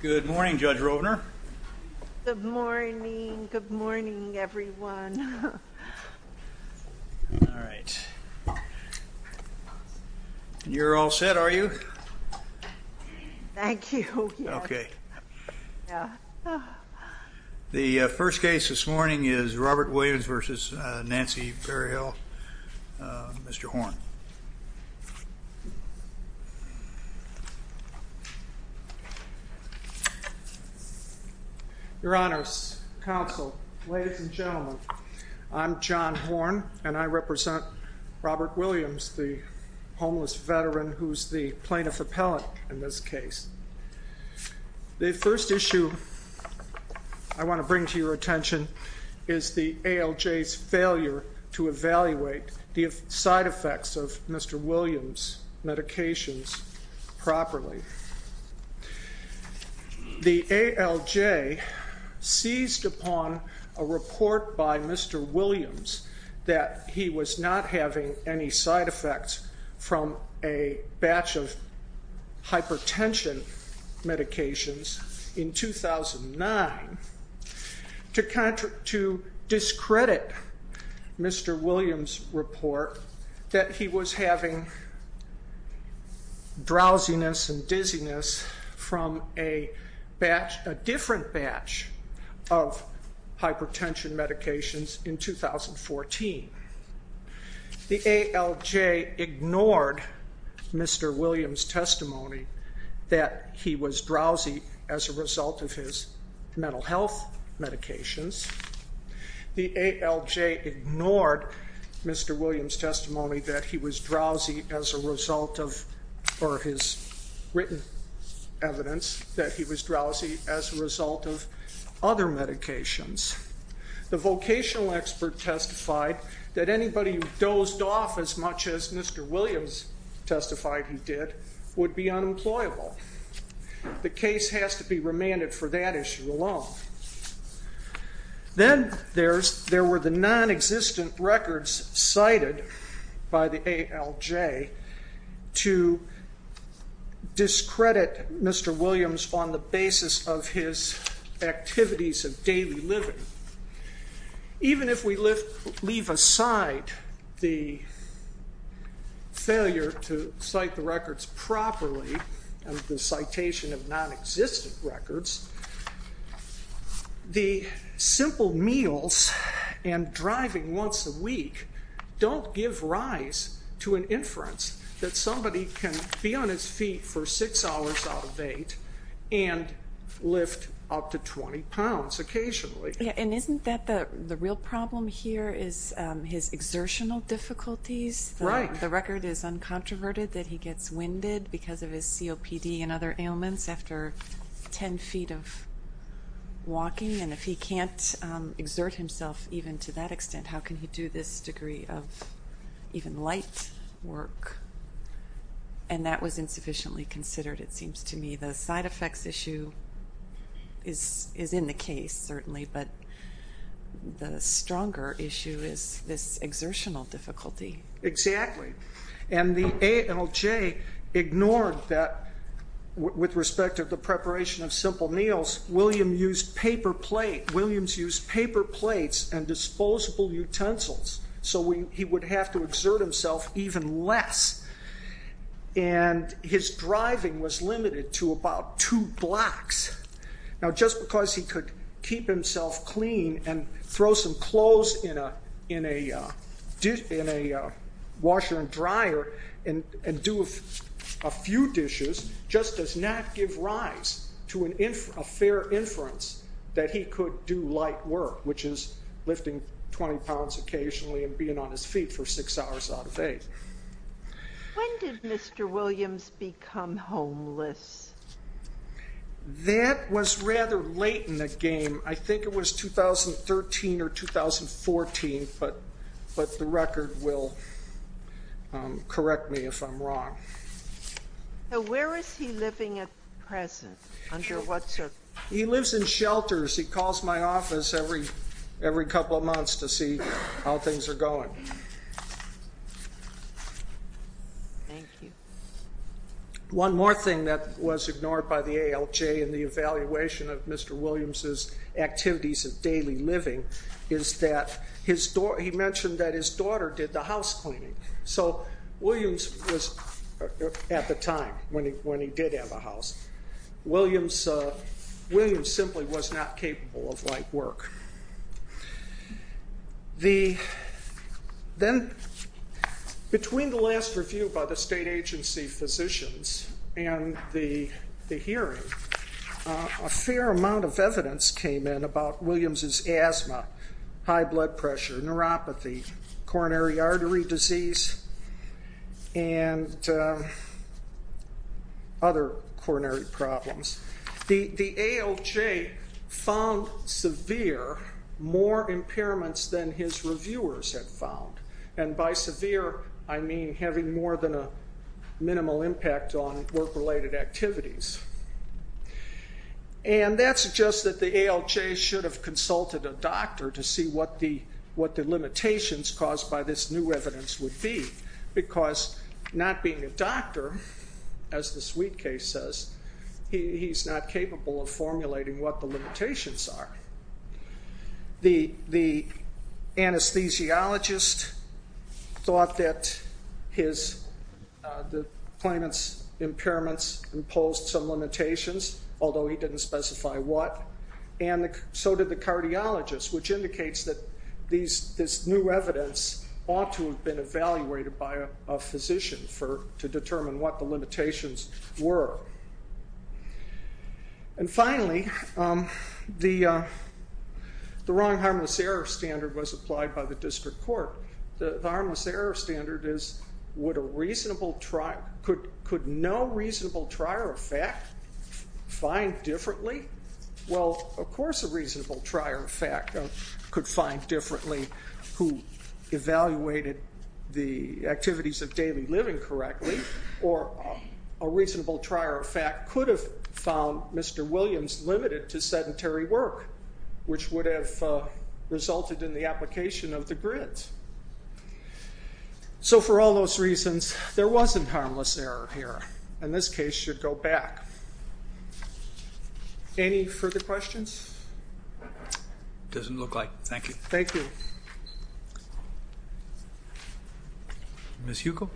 Good morning, Judge Rovner. Good morning. Good morning, everyone. All right. You're all set, are you? Thank you. Okay. The first case this morning is Robert Williams v. Nancy Berryhill, Mr. Horn. Your Honors, Counsel, ladies and gentlemen, I'm John Horn, and I represent Robert Williams, the homeless veteran who's the plaintiff appellate in this case. The first issue I want to bring to your attention is the ALJ's failure to evaluate the side effects of Mr. Williams' medications properly. The ALJ seized upon a report by Mr. Williams that he was not having any side effects from a batch of hypertension medications in 2009 to discredit Mr. Williams' report that he was having drowsiness and dizziness from a different batch of hypertension medications in 2014. The ALJ ignored Mr. Williams' testimony that he was drowsy as a result of his mental health medications. The ALJ ignored Mr. Williams' testimony that he was drowsy as a result of, or his written evidence, that he was drowsy as a result of other medications. The vocational expert testified that anybody who dozed off as much as Mr. Williams testified he did would be unemployable. The case has to be remanded for that issue alone. Then there were the non-existent records cited by the ALJ to discredit Mr. Williams on the basis of his activities of daily living. Even if we leave aside the failure to cite the records properly and the citation of non-existent records, the simple meals and driving once a week don't give rise to an inference that somebody can be on his feet for six hours out of eight and lift up to 20 pounds occasionally. Yeah, and isn't that the real problem here is his exertional difficulties? Right. The record is uncontroverted that he gets winded because of his COPD and other ailments after 10 feet of walking, and if he can't exert himself even to that extent, how can he do this degree of even light work? And that was insufficiently considered, it seems to me. The side effects issue is in the case, certainly, but the stronger issue is this exertional difficulty. And the ALJ ignored that with respect to the preparation of simple meals. Williams used paper plates and disposable utensils, so he would have to exert himself even less. And his driving was limited to about two blocks. Now, just because he could keep himself clean and throw some clothes in a washer and dryer and do a few dishes just does not give rise to a fair inference that he could do light work, which is lifting 20 pounds occasionally and being on his feet for six hours out of eight. When did Mr. Williams become homeless? That was rather late in the game. I think it was 2013 or 2014, but the record will correct me if I'm wrong. Where is he living at present? Under what circumstances? He lives in shelters. He calls my office every couple of months to see how things are going. One more thing that was ignored by the ALJ in the evaluation of Mr. Williams' activities of daily living is that he mentioned that his daughter did the house cleaning. So Williams was, at the time, when he did have a house, Williams simply was not capable of light work. Then, between the last review by the state agency physicians and the hearing, a fair amount of evidence came in about Williams' asthma, high blood pressure, neuropathy, coronary artery disease, and other coronary problems. The ALJ found severe, more impairments than his reviewers had found. By severe, I mean having more than a minimal impact on work-related activities. And that suggests that the ALJ should have consulted a doctor to see what the limitations caused by this new evidence would be, because not being a doctor, as the sweet case says, he's not capable of formulating what the limitations are. The anesthesiologist thought that the claimant's impairments imposed some limitations, although he didn't specify what. And so did the cardiologist, which indicates that this new evidence ought to have been evaluated by a physician to determine what the limitations were. And finally, the wrong harmless error standard was applied by the district court. The harmless error standard is, could no reasonable trier of fact find differently? Well, of course a reasonable trier of fact could find differently who evaluated the activities of daily living correctly, or a reasonable trier of fact could have found Mr. Williams limited to sedentary work, which would have resulted in the application of the grid. So for all those reasons, there wasn't harmless error here, and this case should go back. Any further questions? Doesn't look like. Thank you. Thank you. Miss Hugo.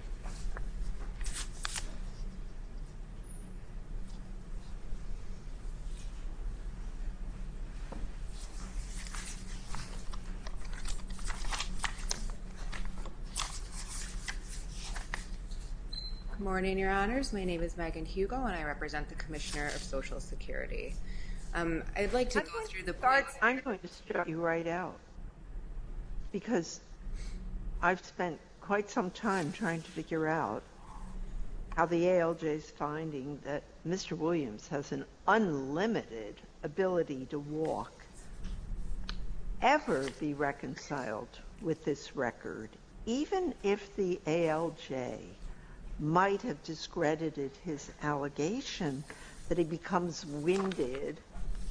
Morning, Your Honors. My name is Megan Hugo, and I represent the commissioner of Social Security. I'd like to go through the. I'm going to start you right out. Because I've spent quite some time trying to figure out how the ALJ is finding that Mr. ability to walk ever be reconciled with this record, even if the ALJ might have discredited his allegation that he becomes winded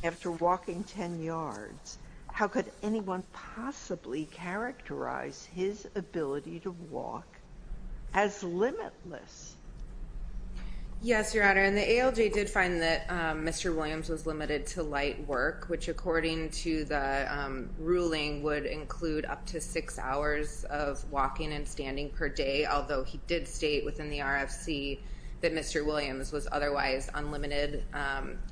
after walking 10 yards. How could anyone possibly characterize his ability to walk as limitless? Yes, Your Honor. And the ALJ did find that Mr. Williams was limited to light work, which, according to the ruling, would include up to six hours of walking and standing per day, although he did state within the RFC that Mr. Williams was otherwise unlimited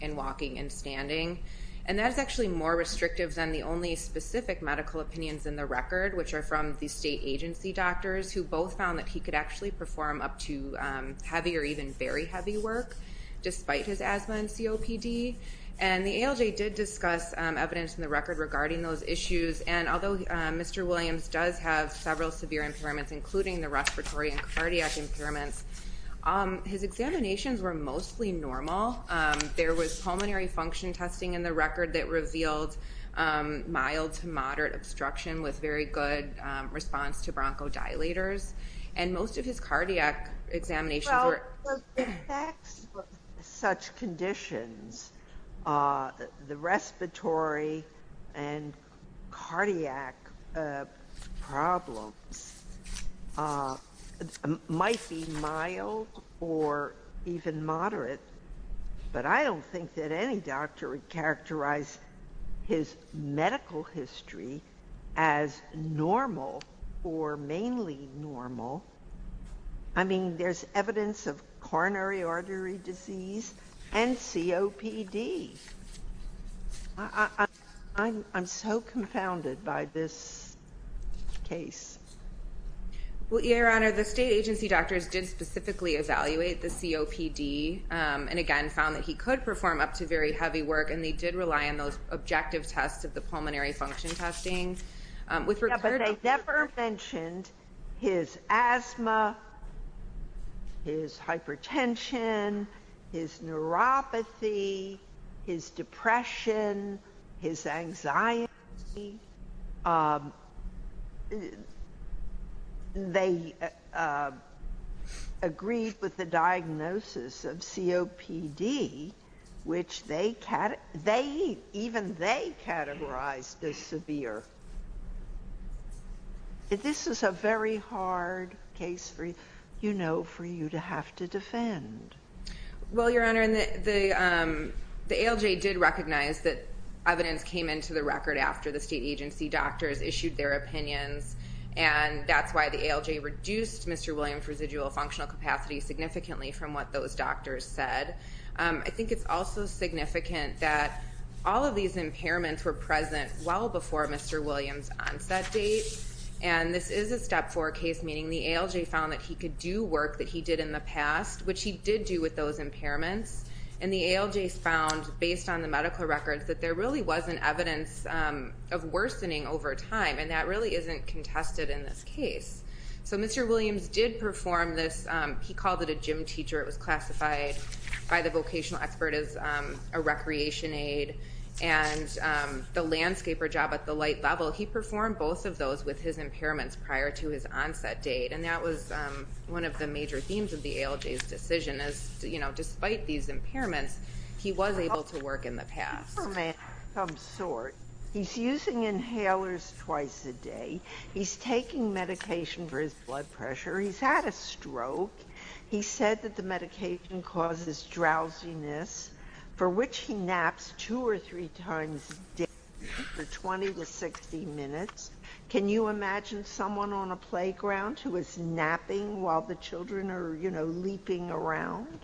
in walking and standing. And that is actually more restrictive than the only specific medical opinions in the record, which are from the state agency doctors who both found that he could actually perform up to heavy or even very heavy work despite his asthma and COPD. And the ALJ did discuss evidence in the record regarding those issues. And although Mr. Williams does have several severe impairments, including the respiratory and cardiac impairments, his examinations were mostly normal. There was pulmonary function testing in the record that revealed mild to moderate obstruction with very good response to bronchodilators. And most of his cardiac examinations were... Well, the effects of such conditions, the respiratory and cardiac problems, might be mild or even moderate. But I don't think that any doctor would characterize his medical history as normal or mainly normal. I mean, there's evidence of coronary artery disease and COPD. I'm so confounded by this case. Well, Your Honor, the state agency doctors did specifically evaluate the COPD and, again, found that he could perform up to very heavy work. And they did rely on those objective tests of the pulmonary function testing. But they never mentioned his asthma, his hypertension, his neuropathy, his depression, his anxiety. They agreed with the diagnosis of COPD, which even they categorized as severe. This is a very hard case for you to have to defend. Well, Your Honor, the ALJ did recognize that evidence came into the record after the state agency doctors issued their opinions. And that's why the ALJ reduced Mr. Williams' residual functional capacity significantly from what those doctors said. I think it's also significant that all of these impairments were present well before Mr. Williams' onset date. And this is a Step 4 case, meaning the ALJ found that he could do work that he did in the past, which he did do with those impairments. And the ALJ found, based on the medical records, that there really wasn't evidence of worsening over time. And that really isn't contested in this case. So Mr. Williams did perform this. He called it a gym teacher. It was classified by the vocational expert as a recreation aid. And the landscaper job at the light level, he performed both of those with his impairments prior to his onset date. And that was one of the major themes of the ALJ's decision is, you know, despite these impairments, he was able to work in the past. He's a superman of some sort. He's using inhalers twice a day. He's taking medication for his blood pressure. He's had a stroke. He said that the medication causes drowsiness, for which he naps two or three times a day for 20 to 60 minutes. Can you imagine someone on a playground who is napping while the children are, you know, leaping around?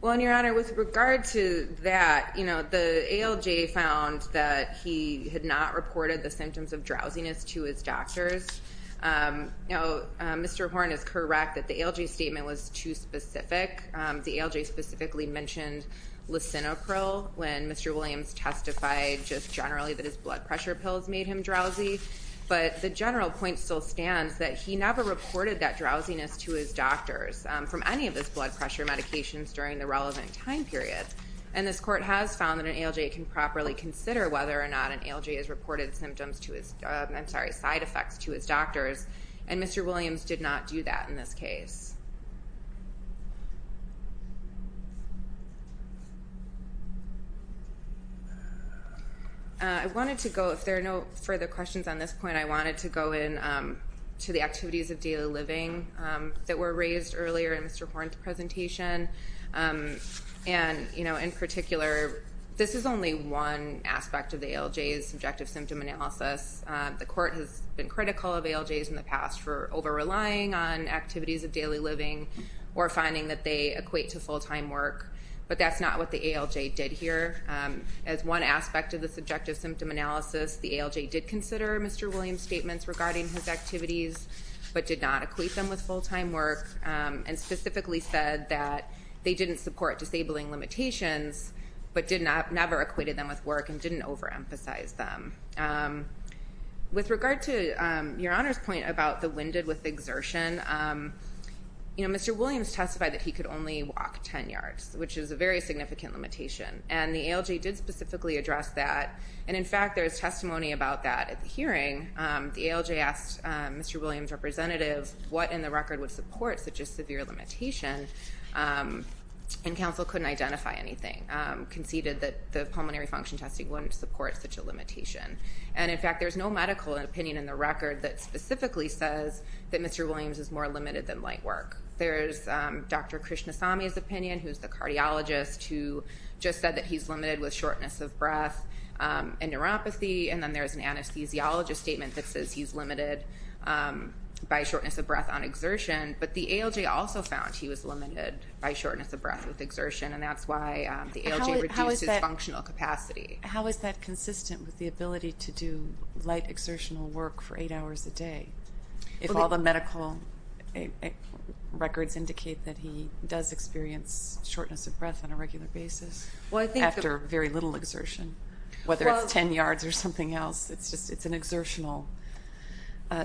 Well, and, Your Honor, with regard to that, you know, the ALJ found that he had not reported the symptoms of drowsiness to his doctors. Now, Mr. Horne is correct that the ALJ statement was too specific. The ALJ specifically mentioned lisinopril when Mr. Williams testified just generally that his blood pressure pills made him drowsy. But the general point still stands that he never reported that drowsiness to his doctors from any of his blood pressure medications during the relevant time period. And this court has found that an ALJ can properly consider whether or not an ALJ has reported symptoms to his, I'm sorry, side effects to his doctors. And Mr. Williams did not do that in this case. I wanted to go, if there are no further questions on this point, I wanted to go into the activities of daily living that were raised earlier in Mr. Horne's presentation. And, you know, in particular, this is only one aspect of the ALJ's subjective symptom analysis. The court has been critical of ALJs in the past for over-relying on activities of daily living or finding that they equate to full-time work. But that's not what the ALJ did here. As one aspect of the subjective symptom analysis, the ALJ did consider Mr. Williams' statements regarding his activities but did not equate them with full-time work and specifically said that they didn't support disabling limitations but never equated them with work and didn't overemphasize them. With regard to Your Honor's point about the winded with exertion, you know, Mr. Williams testified that he could only walk 10 yards, which is a very significant limitation. And the ALJ did specifically address that. And, in fact, there's testimony about that at the hearing. The ALJ asked Mr. Williams' representative what in the record would support such a severe limitation, and counsel couldn't identify anything, conceded that the pulmonary function testing wouldn't support such a limitation. And, in fact, there's no medical opinion in the record that specifically says that Mr. Williams is more limited than light work. There's Dr. Krishnasamy's opinion, who's the cardiologist, who just said that he's limited with shortness of breath and neuropathy. And then there's an anesthesiologist statement that says he's limited by shortness of breath on exertion. But the ALJ also found he was limited by shortness of breath with exertion, and that's why the ALJ reduced his functional capacity. How is that consistent with the ability to do light exertional work for eight hours a day, if all the medical records indicate that he does experience shortness of breath on a regular basis after very little exertion? Whether it's 10 yards or something else, it's an exertional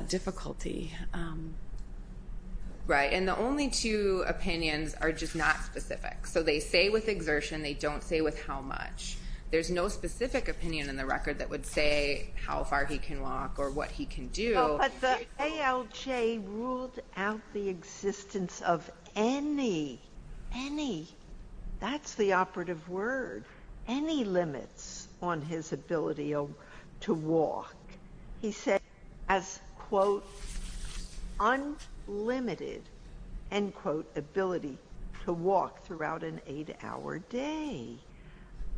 difficulty. Right, and the only two opinions are just not specific. So they say with exertion, they don't say with how much. There's no specific opinion in the record that would say how far he can walk or what he can do. But the ALJ ruled out the existence of any, any, that's the operative word, any limits on his ability to walk. He said as, quote, unlimited, end quote, ability to walk throughout an eight-hour day.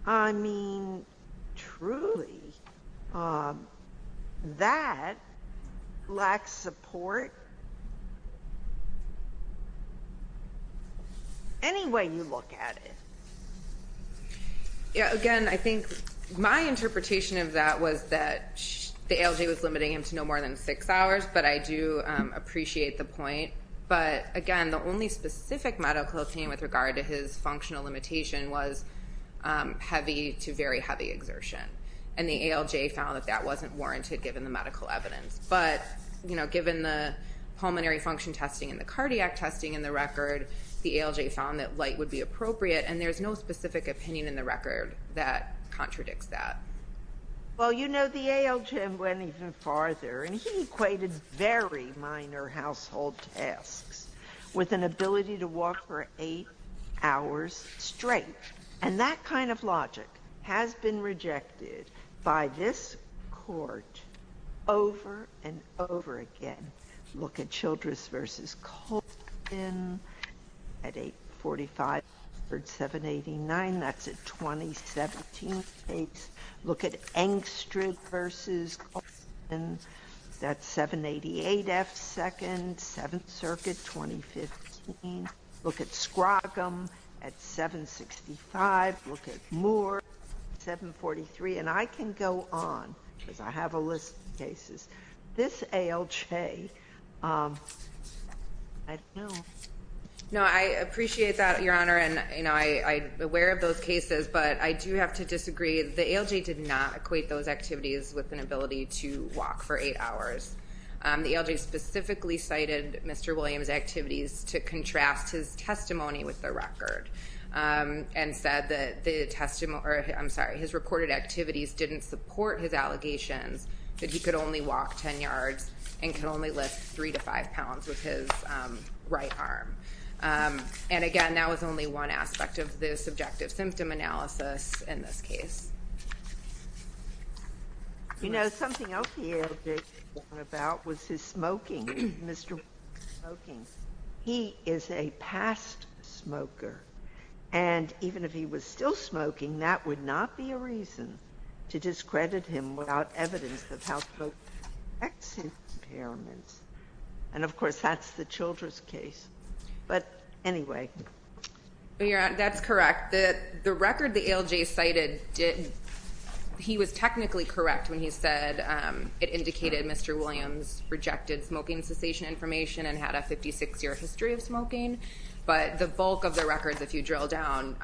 I mean, truly, that lacks support any way you look at it. Yeah, again, I think my interpretation of that was that the ALJ was limiting him to no more than six hours, but I do appreciate the point. But, again, the only specific medical opinion with regard to his functional limitation was heavy to very heavy exertion, and the ALJ found that that wasn't warranted given the medical evidence. But, you know, given the pulmonary function testing and the cardiac testing in the record, the ALJ found that light would be appropriate, and there's no specific opinion in the record that contradicts that. Well, you know, the ALJ went even farther, and he equated very minor household tasks with an ability to walk for eight hours straight. And that kind of logic has been rejected by this Court over and over again. Look at Childress v. Colton at 845, 789. That's a 2017 case. Look at Engstrom v. Colton. That's 788 F2nd, Seventh Circuit, 2015. Look at Scroggum at 765. Look at Moore at 743. And I can go on because I have a list of cases. This ALJ, I don't know. No, I appreciate that, Your Honor, and, you know, I'm aware of those cases, but I do have to disagree. The ALJ did not equate those activities with an ability to walk for eight hours. The ALJ specifically cited Mr. Williams' activities to contrast his testimony with the record and said that the testimony or, I'm sorry, his reported activities didn't support his allegations that he could only walk ten yards and could only lift three to five pounds with his right arm. And, again, that was only one aspect of the subjective symptom analysis in this case. You know, something else the ALJ talked about was his smoking. Mr. Williams is smoking. He is a past smoker. And even if he was still smoking, that would not be a reason to discredit him without evidence of how smoke affects his impairments. And, of course, that's the Childress case. But, anyway. That's correct. The record the ALJ cited didn't he was technically correct when he said it indicated Mr. Williams rejected smoking cessation information and had a 56-year history of smoking. But the bulk of the records, if you drill down,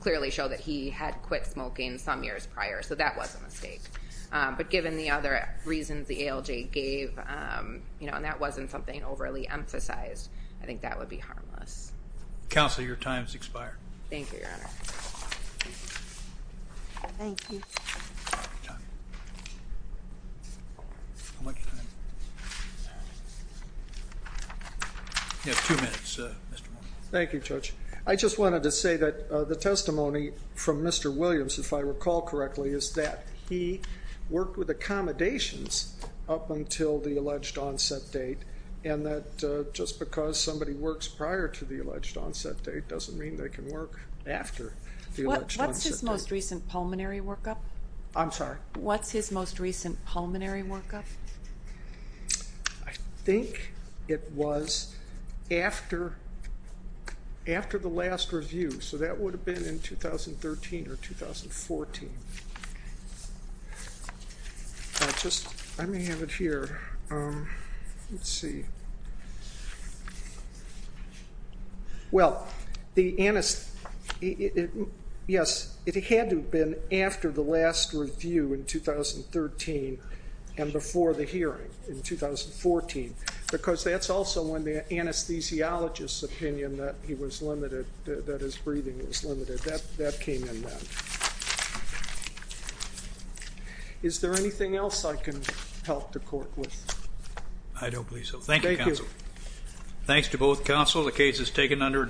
clearly show that he had quit smoking some years prior. So that was a mistake. But given the other reasons the ALJ gave, you know, and that wasn't something overly emphasized, I think that would be harmless. Counsel, your time has expired. Thank you, Your Honor. Thank you. How much time? You have two minutes, Mr. Williams. Thank you, Judge. I just wanted to say that the testimony from Mr. Williams, if I recall correctly, is that he worked with accommodations up until the alleged onset date, and that just because somebody works prior to the alleged onset date doesn't mean they can work after the alleged onset date. What's his most recent pulmonary workup? I'm sorry? What's his most recent pulmonary workup? I think it was after the last review. So that would have been in 2013 or 2014. Let me have it here. Let's see. Well, yes, it had to have been after the last review in 2013 and before the hearing in 2014, because that's also when the anesthesiologist's opinion that he was limited, that his breathing was limited, that came in then. Is there anything else I can help the Court with? I don't believe so. Thank you, Counsel. Thanks to both Counsel. The case is taken under advisement.